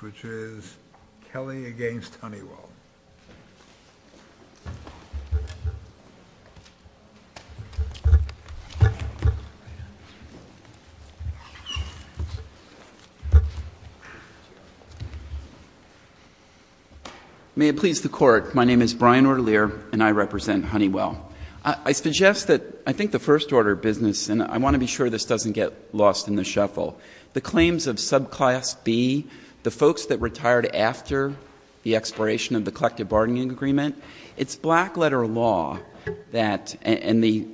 which is Kelley v. Honeywell. Mr. O'Leary May it please the Court, my name is Brian O'Leary and I represent Honeywell. I suggest that I think the first order of business, and I want to be sure this doesn't get lost in the shuffle, the claims of subclass B and subclass C, the claims of subclass B, the folks that retired after the expiration of the collective bargaining agreement, it's black letter law that, and the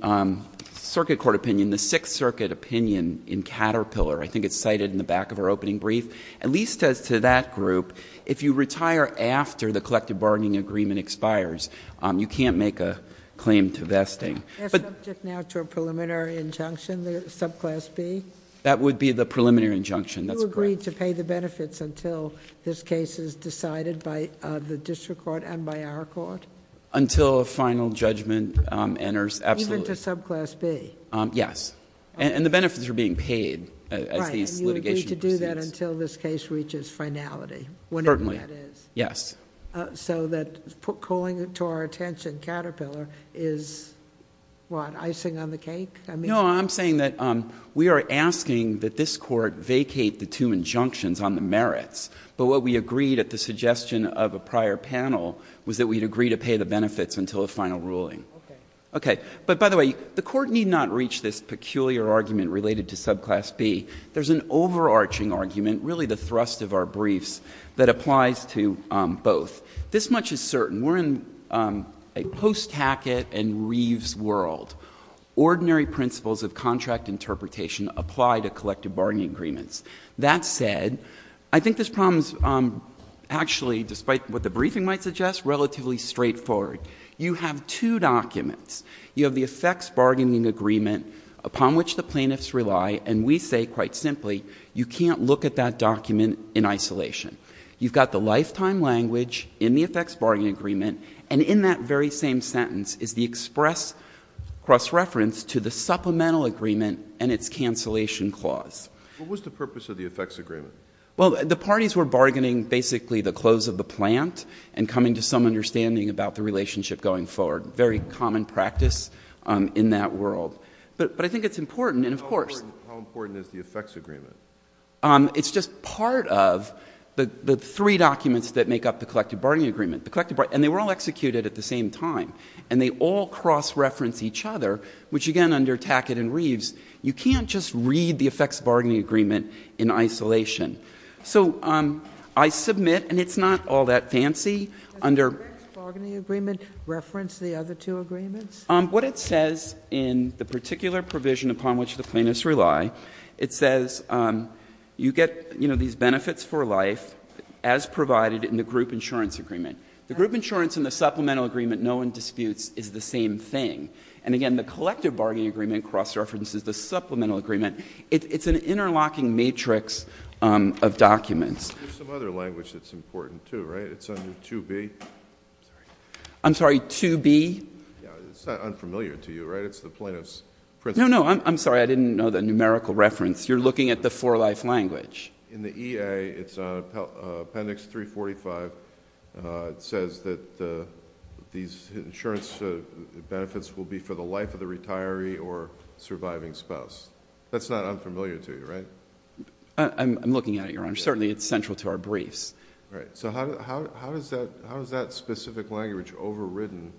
circuit court opinion, the Sixth Circuit opinion in Caterpillar, I think it's cited in the back of our opening brief, at least as to that group, if you retire after the collective bargaining agreement expires, you can't make a claim to vesting. As subject now to a preliminary injunction, the subclass B? That would be the preliminary injunction, that's correct. Would you agree to pay the benefits until this case is decided by the district court and by our court? Until a final judgment enters, absolutely. Even to subclass B? Yes. And the benefits are being paid as the litigation proceeds. Right. And you agree to do that until this case reaches finality? Certainly. Whenever that is? Yes. So that calling to our attention Caterpillar is what, icing on the cake? No, I'm saying that we are asking that this court vacate the two injunctions on the merits, but what we agreed at the suggestion of a prior panel was that we'd agree to pay the benefits until a final ruling. Okay. Okay. But by the way, the court need not reach this peculiar argument related to subclass B. There's an overarching argument, really the thrust of our briefs, that applies to both. This much is certain. We're in a Post Hackett and Reeves world. Ordinary principles of contract interpretation apply to collective bargaining agreements. That said, I think this problem is actually, despite what the briefing might suggest, relatively straightforward. You have two documents. You have the effects bargaining agreement upon which the plaintiffs rely, and we say quite simply, you can't look at that document in isolation. You've got the lifetime language in the effects bargaining agreement, and in that very same sentence is the express cross-reference to the supplemental agreement and its cancellation clause. What was the purpose of the effects agreement? Well, the parties were bargaining, basically, the close of the plant and coming to some understanding about the relationship going forward. Very common practice in that world. But I think it's important, and of course— How important is the effects agreement? It's just part of the three documents that make up the collective bargaining agreement. And they were all executed at the same time, and they all cross-reference each other, which, again, under Tackett and Reeves, you can't just read the effects bargaining agreement in isolation. So I submit, and it's not all that fancy, under— Does the effects bargaining agreement reference the other two agreements? What it says in the particular provision upon which the plaintiffs rely, it says you get these benefits for life as provided in the group insurance agreement. The group insurance and the supplemental agreement, no one disputes, is the same thing. And again, the collective bargaining agreement cross-references the supplemental agreement. It's an interlocking matrix of documents. There's some other language that's important, too, right? It's under 2B. I'm sorry, 2B? It's not unfamiliar to you, right? It's the plaintiff's principle. No, no, I'm sorry. I didn't know the numerical reference. You're looking at the for-life language. In the EA, it's on Appendix 345. It says that these insurance benefits will be for the life of the retiree or surviving spouse. That's not unfamiliar to you, right? I'm looking at it, Your Honor. Certainly, it's central to our briefs. All right. So how is that specific language overridden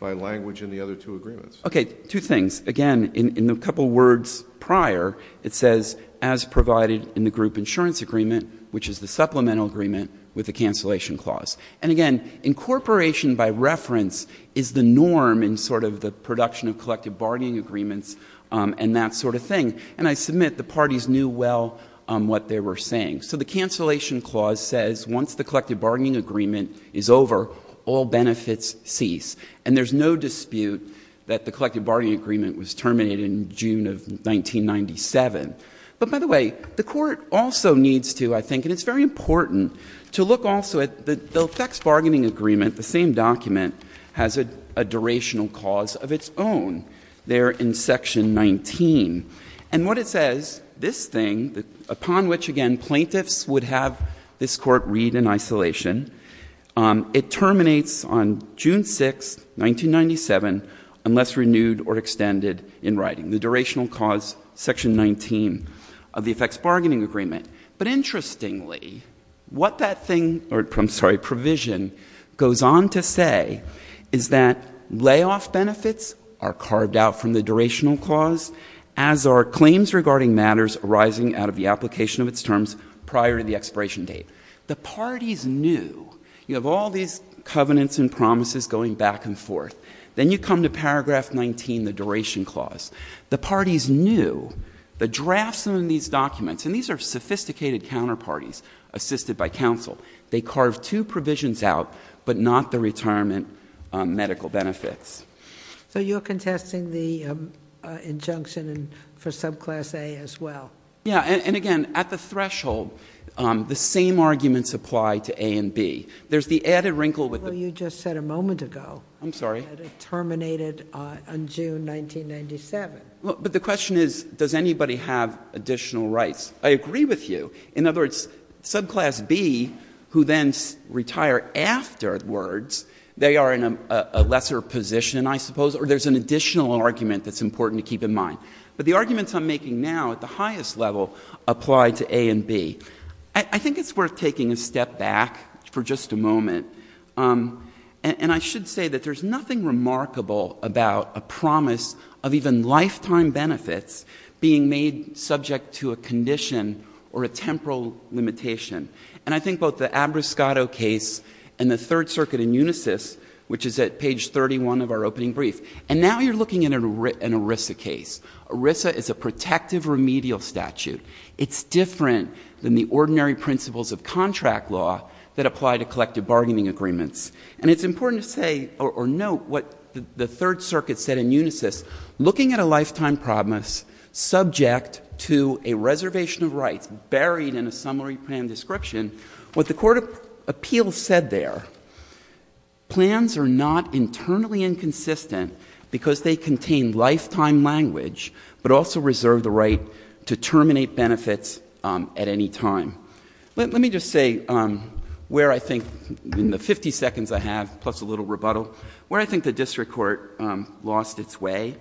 by language in the other two agreements? Okay, two things. Again, in the couple words prior, it says as provided in the group insurance agreement, which is the supplemental agreement with the cancellation clause. And again, incorporation by reference is the norm in sort of the production of collective bargaining agreements and that sort of thing. And I submit the parties knew well what they were saying. So the cancellation clause says once the collective bargaining agreement is over, all benefits cease. And there's no dispute that the collective bargaining agreement was terminated in June of 1997. But by the way, the Court also needs to, I think, and it's very important to look also at the effects bargaining agreement, the same document, has a durational clause of its own there in Section 19. And what it says, this thing, upon which, again, plaintiffs would have this court read in isolation. It terminates on June 6, 1997 unless renewed or extended in writing. The durational clause, Section 19 of the effects bargaining agreement. But interestingly, what that thing, or I'm sorry, provision goes on to say is that layoff benefits are carved out from the durational clause as are claims regarding matters arising out of the application of its terms prior to the expiration date. The parties knew. You have all these covenants and promises going back and forth. Then you come to Paragraph 19, the duration clause. The parties knew. The drafts in these documents, and these are sophisticated counterparties assisted by counsel. They carve two provisions out but not the retirement medical benefits. So you're contesting the injunction for subclass A as well? Yeah. And again, at the threshold, the same arguments apply to A and B. There's the added wrinkle with the ---- Well, you just said a moment ago. I'm sorry. That it terminated on June 1997. But the question is, does anybody have additional rights? I agree with you. In other words, subclass B, who then retire afterwards, they are in a lesser position, I suppose, or there's an additional argument that's important to keep in mind. But the arguments I'm making now at the highest level apply to A and B. I think it's worth taking a step back for just a moment. And I should say that there's nothing remarkable about a promise of even lifetime benefits being made subject to a condition or a temporal limitation. And I think both the Abriscato case and the Third Circuit in Unisys, which is at page 31 of our opening brief. And now you're looking at an ERISA case. ERISA is a protective remedial statute. It's different than the ordinary principles of contract law that apply to collective bargaining agreements. And it's important to say or note what the Third Circuit said in Unisys. Looking at a lifetime promise subject to a reservation of rights buried in a summary plan description, what the court of appeals said there, plans are not internally inconsistent because they contain lifetime language, but also reserve the right to terminate benefits at any time. Let me just say where I think in the 50 seconds I have, plus a little rebuttal, where I think the district court lost its way.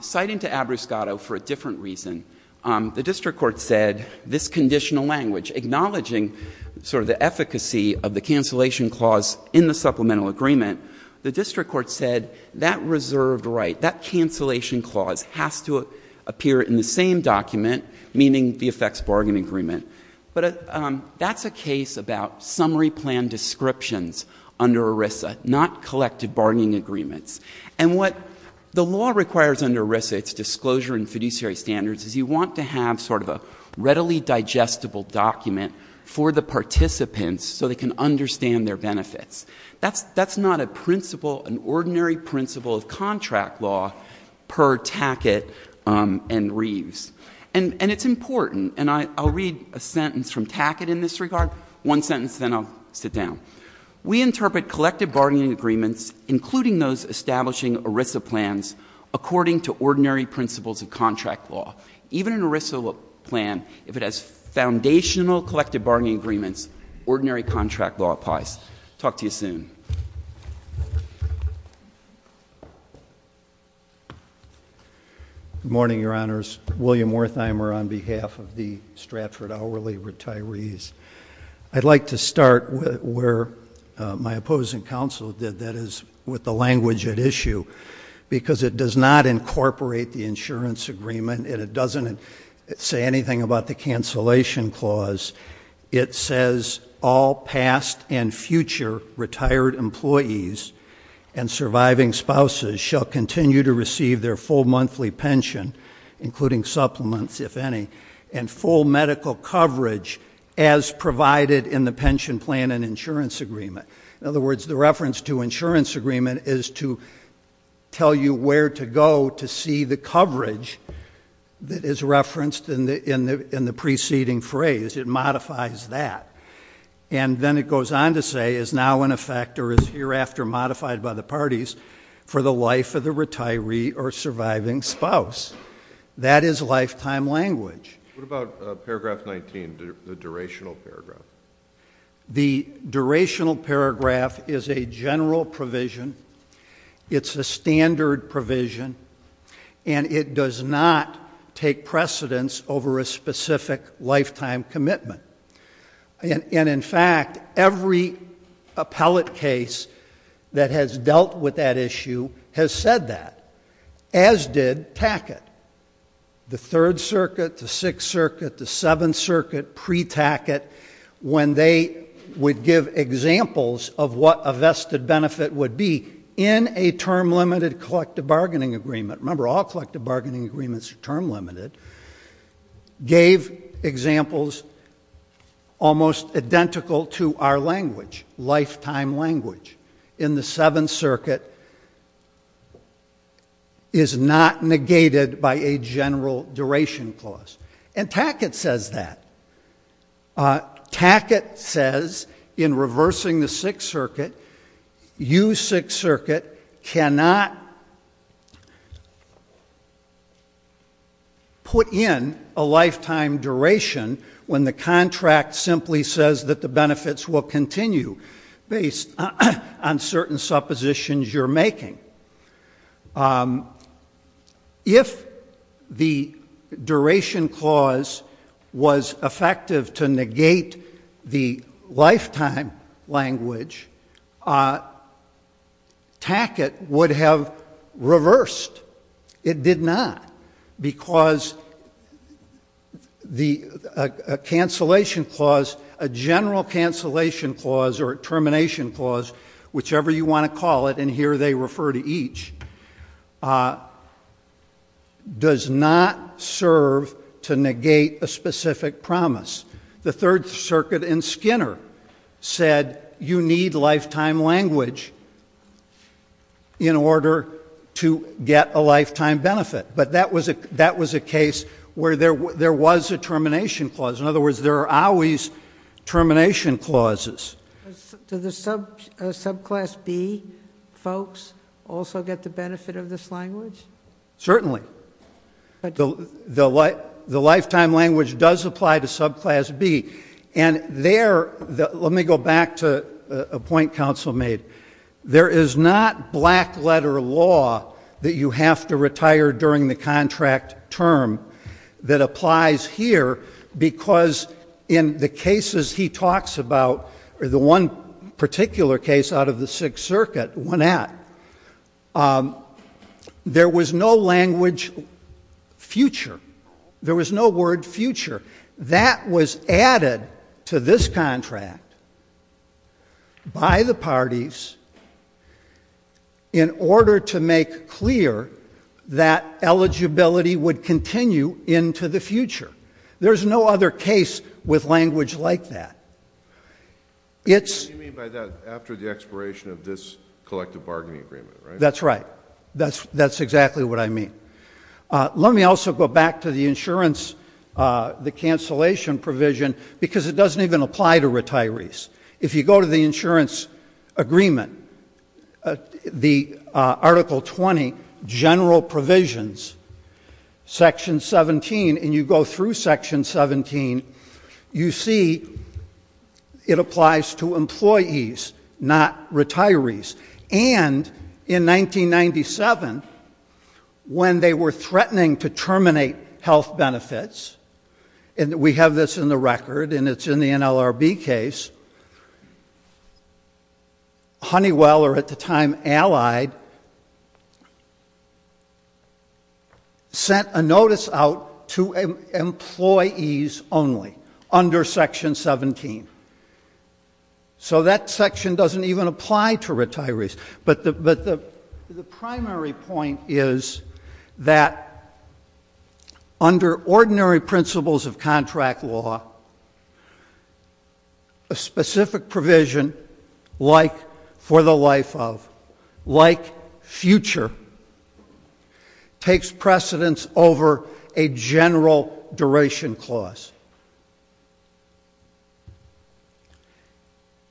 Citing to Abriscato for a different reason, the district court said this conditional language, acknowledging sort of the efficacy of the cancellation clause in the supplemental agreement, the district court said that reserved right, that cancellation clause has to appear in the same document, meaning the effects bargain agreement. But that's a case about summary plan descriptions under ERISA, not collective bargaining agreements. And what the law requires under ERISA, its disclosure and fiduciary standards, is you want to have sort of a readily digestible document for the participants so they can understand their benefits. That's not a principle, an ordinary principle of contract law per Tackett and Reeves. And it's important, and I'll read a sentence from Tackett in this regard, one sentence and then I'll sit down. We interpret collective bargaining agreements, including those establishing ERISA plans, according to ordinary principles of contract law. Even an ERISA plan, if it has foundational collective bargaining agreements, ordinary contract law applies. Talk to you soon. Good morning, Your Honors. William Wertheimer on behalf of the Stratford Hourly Retirees. I'd like to start where my opposing counsel did, that is with the language at issue, because it does not incorporate the insurance agreement and it doesn't say anything about the cancellation clause. It says, all past and future retired employees and surviving spouses shall continue to receive their full monthly pension, including supplements if any, and full medical coverage as provided in the pension plan and insurance agreement. In other words, the reference to insurance agreement is to tell you where to go to see the coverage that is referenced in the preceding phrase. It modifies that. And then it goes on to say, is now in effect or is hereafter modified by the parties for the life of the retiree or surviving spouse. That is lifetime language. What about paragraph 19, the durational paragraph? The durational paragraph is a general provision. It's a standard provision. And it does not take precedence over a specific lifetime commitment. And, in fact, every appellate case that has dealt with that issue has said that, as did Tackett, the Third Circuit, the Sixth Circuit, the Seventh Circuit, pre-Tackett, when they would give examples of what a vested benefit would be in a term-limited collective bargaining agreement. Remember, all collective bargaining agreements are term-limited. Gave examples almost identical to our language, lifetime language, in the Seventh Circuit is not negated by a general duration clause. And Tackett says that. Tackett says, in reversing the Sixth Circuit, you, Sixth Circuit, cannot put in a lifetime duration when the contract simply says that the benefits will continue based on certain suppositions you're making. If the duration clause was effective to negate the lifetime language, Tackett would have reversed. It did not, because a cancellation clause, a general cancellation clause or a termination clause, whichever you want to call it, and here they refer to each, does not serve to negate a specific promise. The Third Circuit in Skinner said, you need lifetime language in order to get a lifetime benefit. But that was a case where there was a termination clause. In other words, there are always termination clauses. Do the subclass B folks also get the benefit of this language? Certainly. The lifetime language does apply to subclass B. And there, let me go back to a point counsel made. There is not black-letter law that you have to retire during the contract term that applies here because in the cases he talks about, or the one particular case out of the Sixth Circuit, there was no language future. There was no word future. That was added to this contract by the parties in order to make clear that eligibility would continue into the future. There is no other case with language like that. What do you mean by that? After the expiration of this collective bargaining agreement, right? That's right. That's exactly what I mean. Let me also go back to the insurance, the cancellation provision, because it doesn't even apply to retirees. If you go to the insurance agreement, the Article 20 general provisions, Section 17, and you go through Section 17, you see it applies to employees, not retirees. And in 1997, when they were threatening to terminate health benefits, and we have this in the record and it's in the NLRB case, Honeywell, or at the time Allied, sent a notice out to employees only under Section 17. So that section doesn't even apply to retirees. But the primary point is that under ordinary principles of contract law, a specific provision like for the life of, like future, takes precedence over a general duration clause.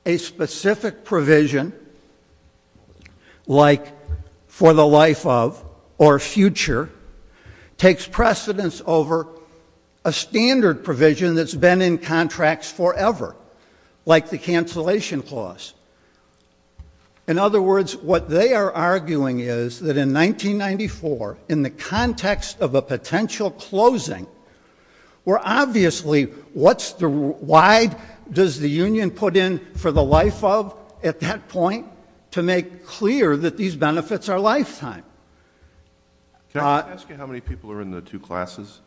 A specific provision like for the life of or future takes precedence over a standard provision that's been in contracts forever, like the cancellation clause. In other words, what they are arguing is that in 1994, in the context of a potential closing, where obviously, why does the union put in for the life of at that point? To make clear that these benefits are lifetime. Can I ask you how many people are in the two classes,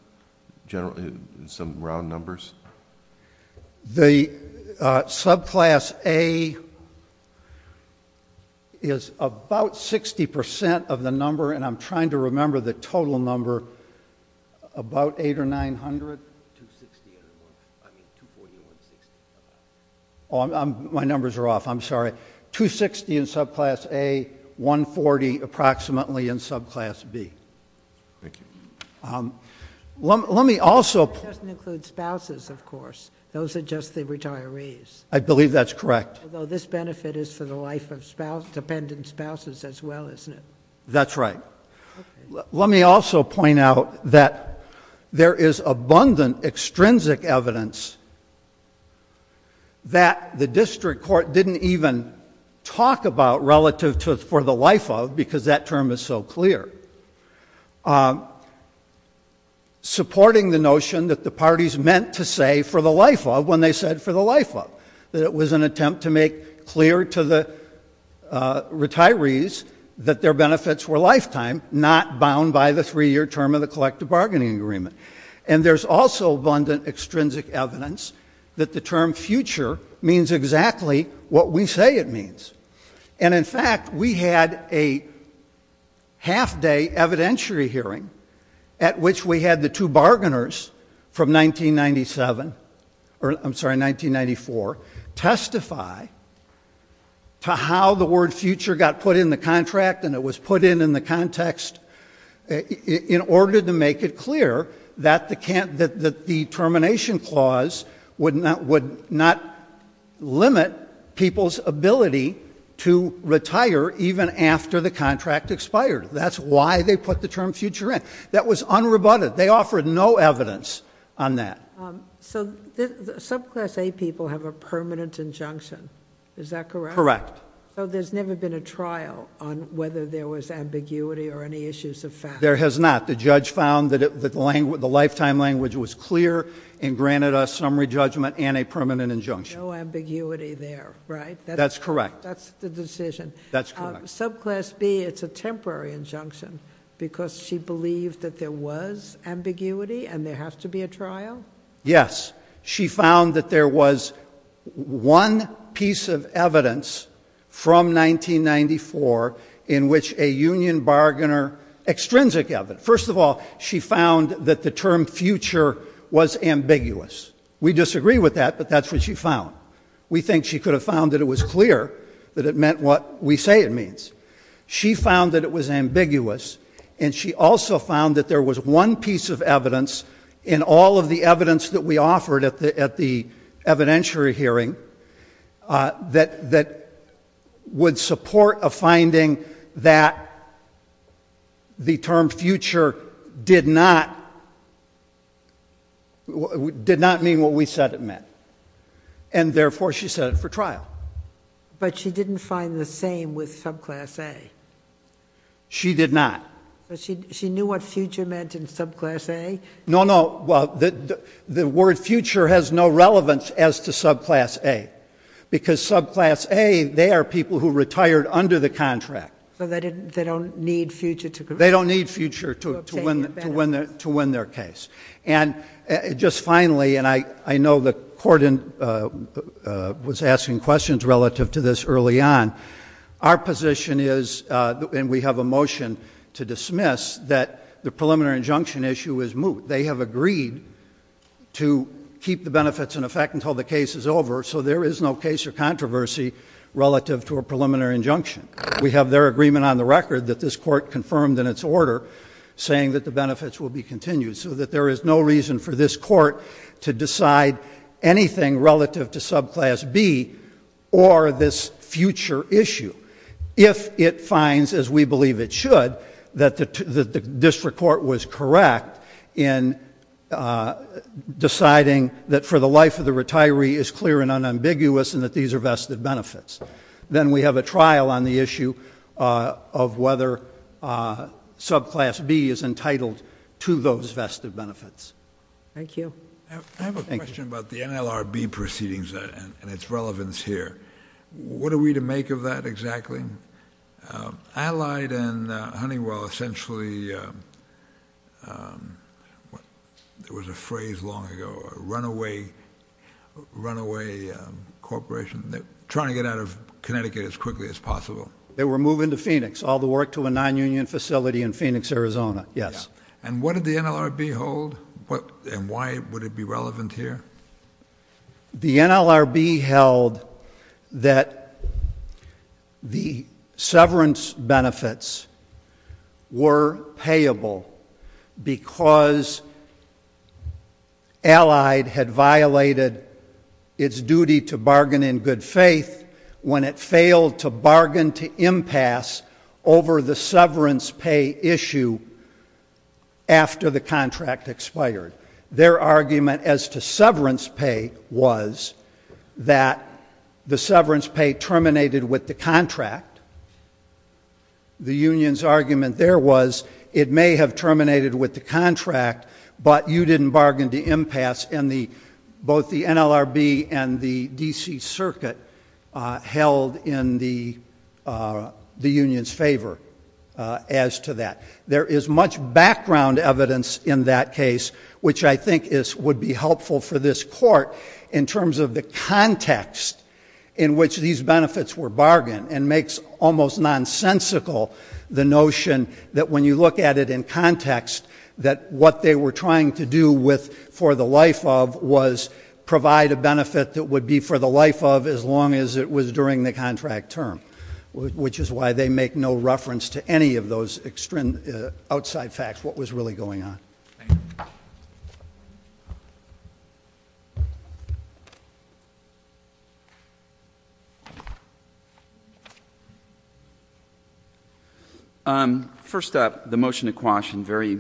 generally, in some round numbers? The subclass A is about 60% of the number, and I'm trying to remember the total number, about 800 or 900? 260, I mean 240 or 160. Oh, my numbers are off, I'm sorry. 260 in subclass A, 140 approximately in subclass B. Thank you. Let me also... It doesn't include spouses, of course. Those are just the retirees. I believe that's correct. Although this benefit is for the life of dependent spouses as well, isn't it? That's right. Let me also point out that there is abundant extrinsic evidence that the district court didn't even talk about relative to for the life of, because that term is so clear, supporting the notion that the parties meant to say for the life of when they said for the life of, that it was an attempt to make clear to the retirees that their benefits were lifetime, not bound by the three-year term of the collective bargaining agreement. And there's also abundant extrinsic evidence that the term future means exactly what we say it means. And, in fact, we had a half-day evidentiary hearing at which we had the two bargainers from 1997 or, I'm sorry, 1994, testify to how the word future got put in the contract and it was put in in the context in order to make it clear that the termination clause would not limit people's ability to retire even after the contract expired. That's why they put the term future in. That was unrebutted. They offered no evidence on that. So subclass A people have a permanent injunction. Is that correct? Correct. So there's never been a trial on whether there was ambiguity or any issues of fact. There has not. The judge found that the lifetime language was clear and granted us summary judgment and a permanent injunction. No ambiguity there, right? That's correct. That's the decision. That's correct. Subclass B, it's a temporary injunction because she believed that there was ambiguity and there has to be a trial? Yes. She found that there was one piece of evidence from 1994 in which a union bargainer, extrinsic evidence. First of all, she found that the term future was ambiguous. We disagree with that, but that's what she found. We think she could have found that it was clear that it meant what we say it means. She found that it was ambiguous, and she also found that there was one piece of evidence in all of the evidence that we offered at the evidentiary hearing that would support a finding that the term future did not mean what we said it meant. Therefore, she set it for trial. But she didn't find the same with subclass A? She did not. She knew what future meant in subclass A? No, no. Well, the word future has no relevance as to subclass A because subclass A, they are people who retired under the contract. They don't need future to... They don't need future to win their case. And just finally, and I know the court was asking questions relative to this early on, our position is, and we have a motion to dismiss, that the preliminary injunction issue is moot. They have agreed to keep the benefits in effect until the case is over, so there is no case or controversy relative to a preliminary injunction. We have their agreement on the record that this court confirmed in its order saying that the benefits will be continued, so that there is no reason for this court to decide anything relative to subclass B or this future issue if it finds, as we believe it should, that the district court was correct in deciding that for the life of the retiree is clear and unambiguous and that these are vested benefits. Then we have a trial on the issue of whether subclass B is entitled to those vested benefits. Thank you. I have a question about the NLRB proceedings and its relevance here. What are we to make of that exactly? Allied and Honeywell essentially... There was a phrase long ago, a runaway corporation. They're trying to get out of Connecticut as quickly as possible. They were moving to Phoenix. All the work to a non-union facility in Phoenix, Arizona. Yes. And what did the NLRB hold and why would it be relevant here? The NLRB held that the severance benefits were payable because Allied had violated its duty to bargain in good faith when it failed to bargain to impasse over the severance pay issue after the contract expired. Their argument as to severance pay was that the severance pay terminated with the contract. The union's argument there was it may have terminated with the contract, but you didn't bargain to impasse, and both the NLRB and the D.C. Circuit held in the union's favor as to that. There is much background evidence in that case, which I think would be helpful for this Court in terms of the context in which these benefits were bargained, and makes almost nonsensical the notion that when you look at it in context, that what they were trying to do for the life of was provide a benefit that would be for the life of as long as it was during the contract term, which is why they make no reference to any of those outside facts, what was really going on. Thank you. First up, the motion to quash, and very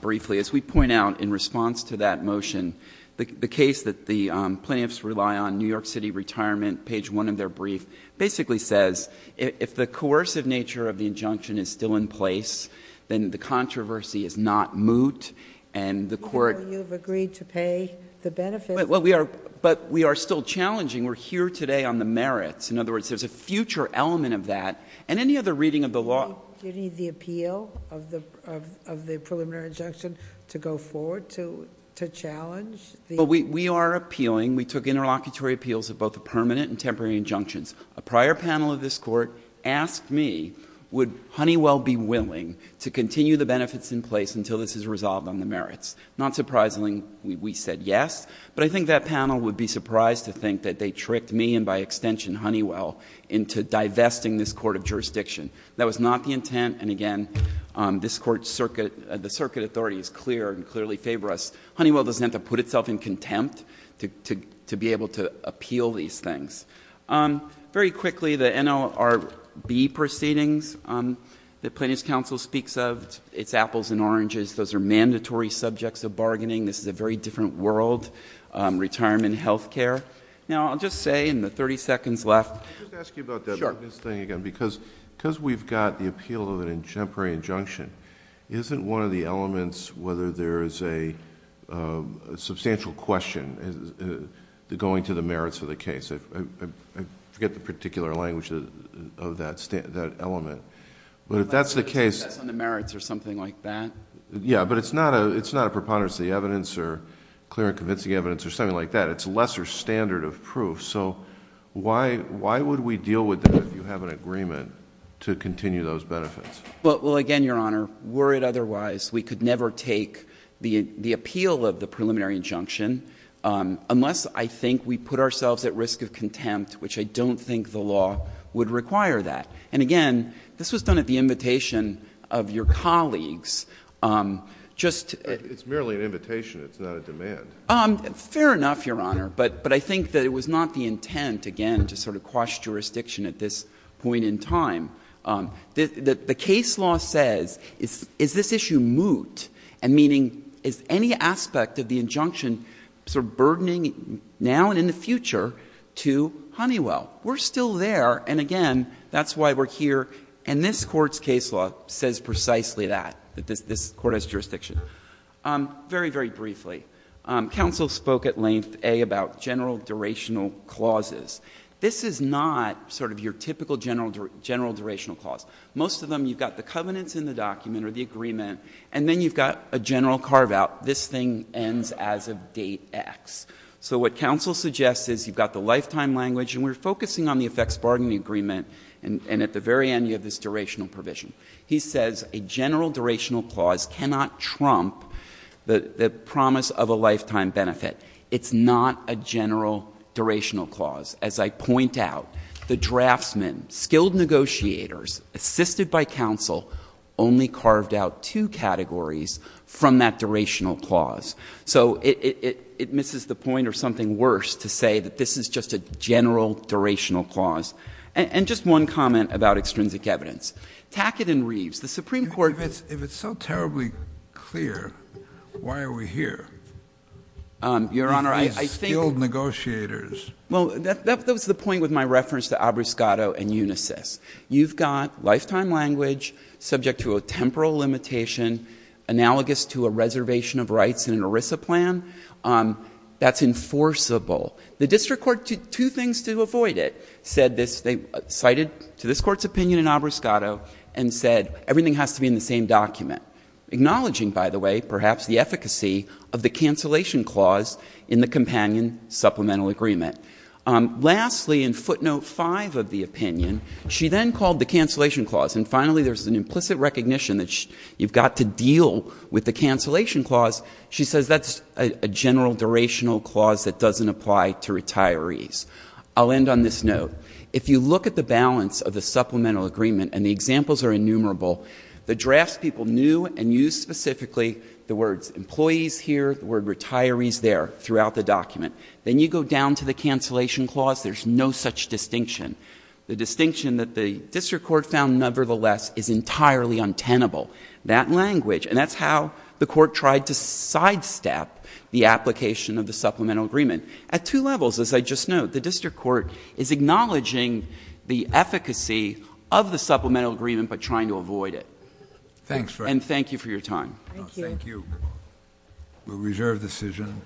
briefly, as we point out in response to that motion, the case that the plaintiffs rely on, New York City Retirement, page 1 of their brief, basically says if the coercive nature of the injunction is still in place, then the controversy is not moot, and the Court — But you have agreed to pay the benefits. But we are still challenging. We are here today on the merits. In other words, there is a future element of that, and any other reading of the law — Do you need the appeal of the preliminary injunction to go forward to challenge the — Well, we are appealing. We took interlocutory appeals of both the permanent and temporary injunctions. A prior panel of this Court asked me would Honeywell be willing to continue the benefits in place until this is resolved on the merits. Not surprisingly, we said yes, but I think that panel would be surprised to think that they tricked me and, by extension, Honeywell, into divesting this court of jurisdiction. That was not the intent, and again, this Court's circuit — the circuit authority is clear and clearly favor us. Honeywell doesn't have to put itself in contempt to be able to appeal these things. Very quickly, the NLRB proceedings that Plaintiffs' Counsel speaks of, it's apples and oranges. Those are mandatory subjects of bargaining. This is a very different world, retirement and health care. Now, I'll just say in the 30 seconds left — Let me just ask you about that. Sure. Because we've got the appeal of a temporary injunction, isn't one of the elements whether there is a substantial question going to the merits of the case? I forget the particular language of that element. But if that's the case... It's on the merits or something like that? Yeah, but it's not a preponderance of the evidence or clear and convincing evidence or something like that. It's a lesser standard of proof. So why would we deal with that if you have an agreement to continue those benefits? Well, again, Your Honor, were it otherwise, we could never take the appeal of the preliminary injunction unless I think we put ourselves at risk of contempt, which I don't think the law would require that. And again, this was done at the invitation of your colleagues. It's merely an invitation. It's not a demand. Fair enough, Your Honor. But I think that it was not the intent, again, to sort of quash jurisdiction at this point in time. The case law says, is this issue moot? And meaning, is any aspect of the injunction sort of burdening now and in the future to Honeywell? We're still there. And again, that's why we're here. And this Court's case law says precisely that, that this Court has jurisdiction. Very, very briefly, counsel spoke at length, A, about general durational clauses. This is not sort of your typical general durational clause. Most of them, you've got the covenants in the document or the agreement, and then you've got a general carve-out. This thing ends as of date X. So what counsel suggests is you've got the lifetime language, and we're focusing on the effects-bargaining agreement, and at the very end you have this durational provision. He says a general durational clause cannot trump the promise of a lifetime benefit. It's not a general durational clause. As I point out, the draftsman, skilled negotiators, assisted by counsel, only carved out two categories from that durational clause. So it misses the point or something worse to say that this is just a general durational clause. And just one comment about extrinsic evidence. Tackett and Reeves, the Supreme Court- If it's so terribly clear, why are we here? Your Honor, I think- These skilled negotiators. Well, that was the point with my reference to Abbruscato and Unisys. You've got lifetime language subject to a temporal limitation analogous to a reservation of rights in an ERISA plan. That's enforceable. The district court did two things to avoid it. They cited to this Court's opinion in Abbruscato and said everything has to be in the same document, acknowledging, by the way, perhaps the efficacy of the cancellation clause in the companion supplemental agreement. Lastly, in footnote 5 of the opinion, she then called the cancellation clause, and finally there's an implicit recognition that you've got to deal with the cancellation clause. She says that's a general durational clause that doesn't apply to retirees. I'll end on this note. If you look at the balance of the supplemental agreement, and the examples are innumerable, the drafts people knew and used specifically the words employees here, the word retirees there throughout the document. Then you go down to the cancellation clause, there's no such distinction. The distinction that the district court found, nevertheless, is entirely untenable. That language, and that's how the court tried to sidestep the application of the supplemental agreement. At two levels, as I just noted, the district court is acknowledging the efficacy of the supplemental agreement but trying to avoid it. And thank you for your time. Thank you. We'll reserve the decision.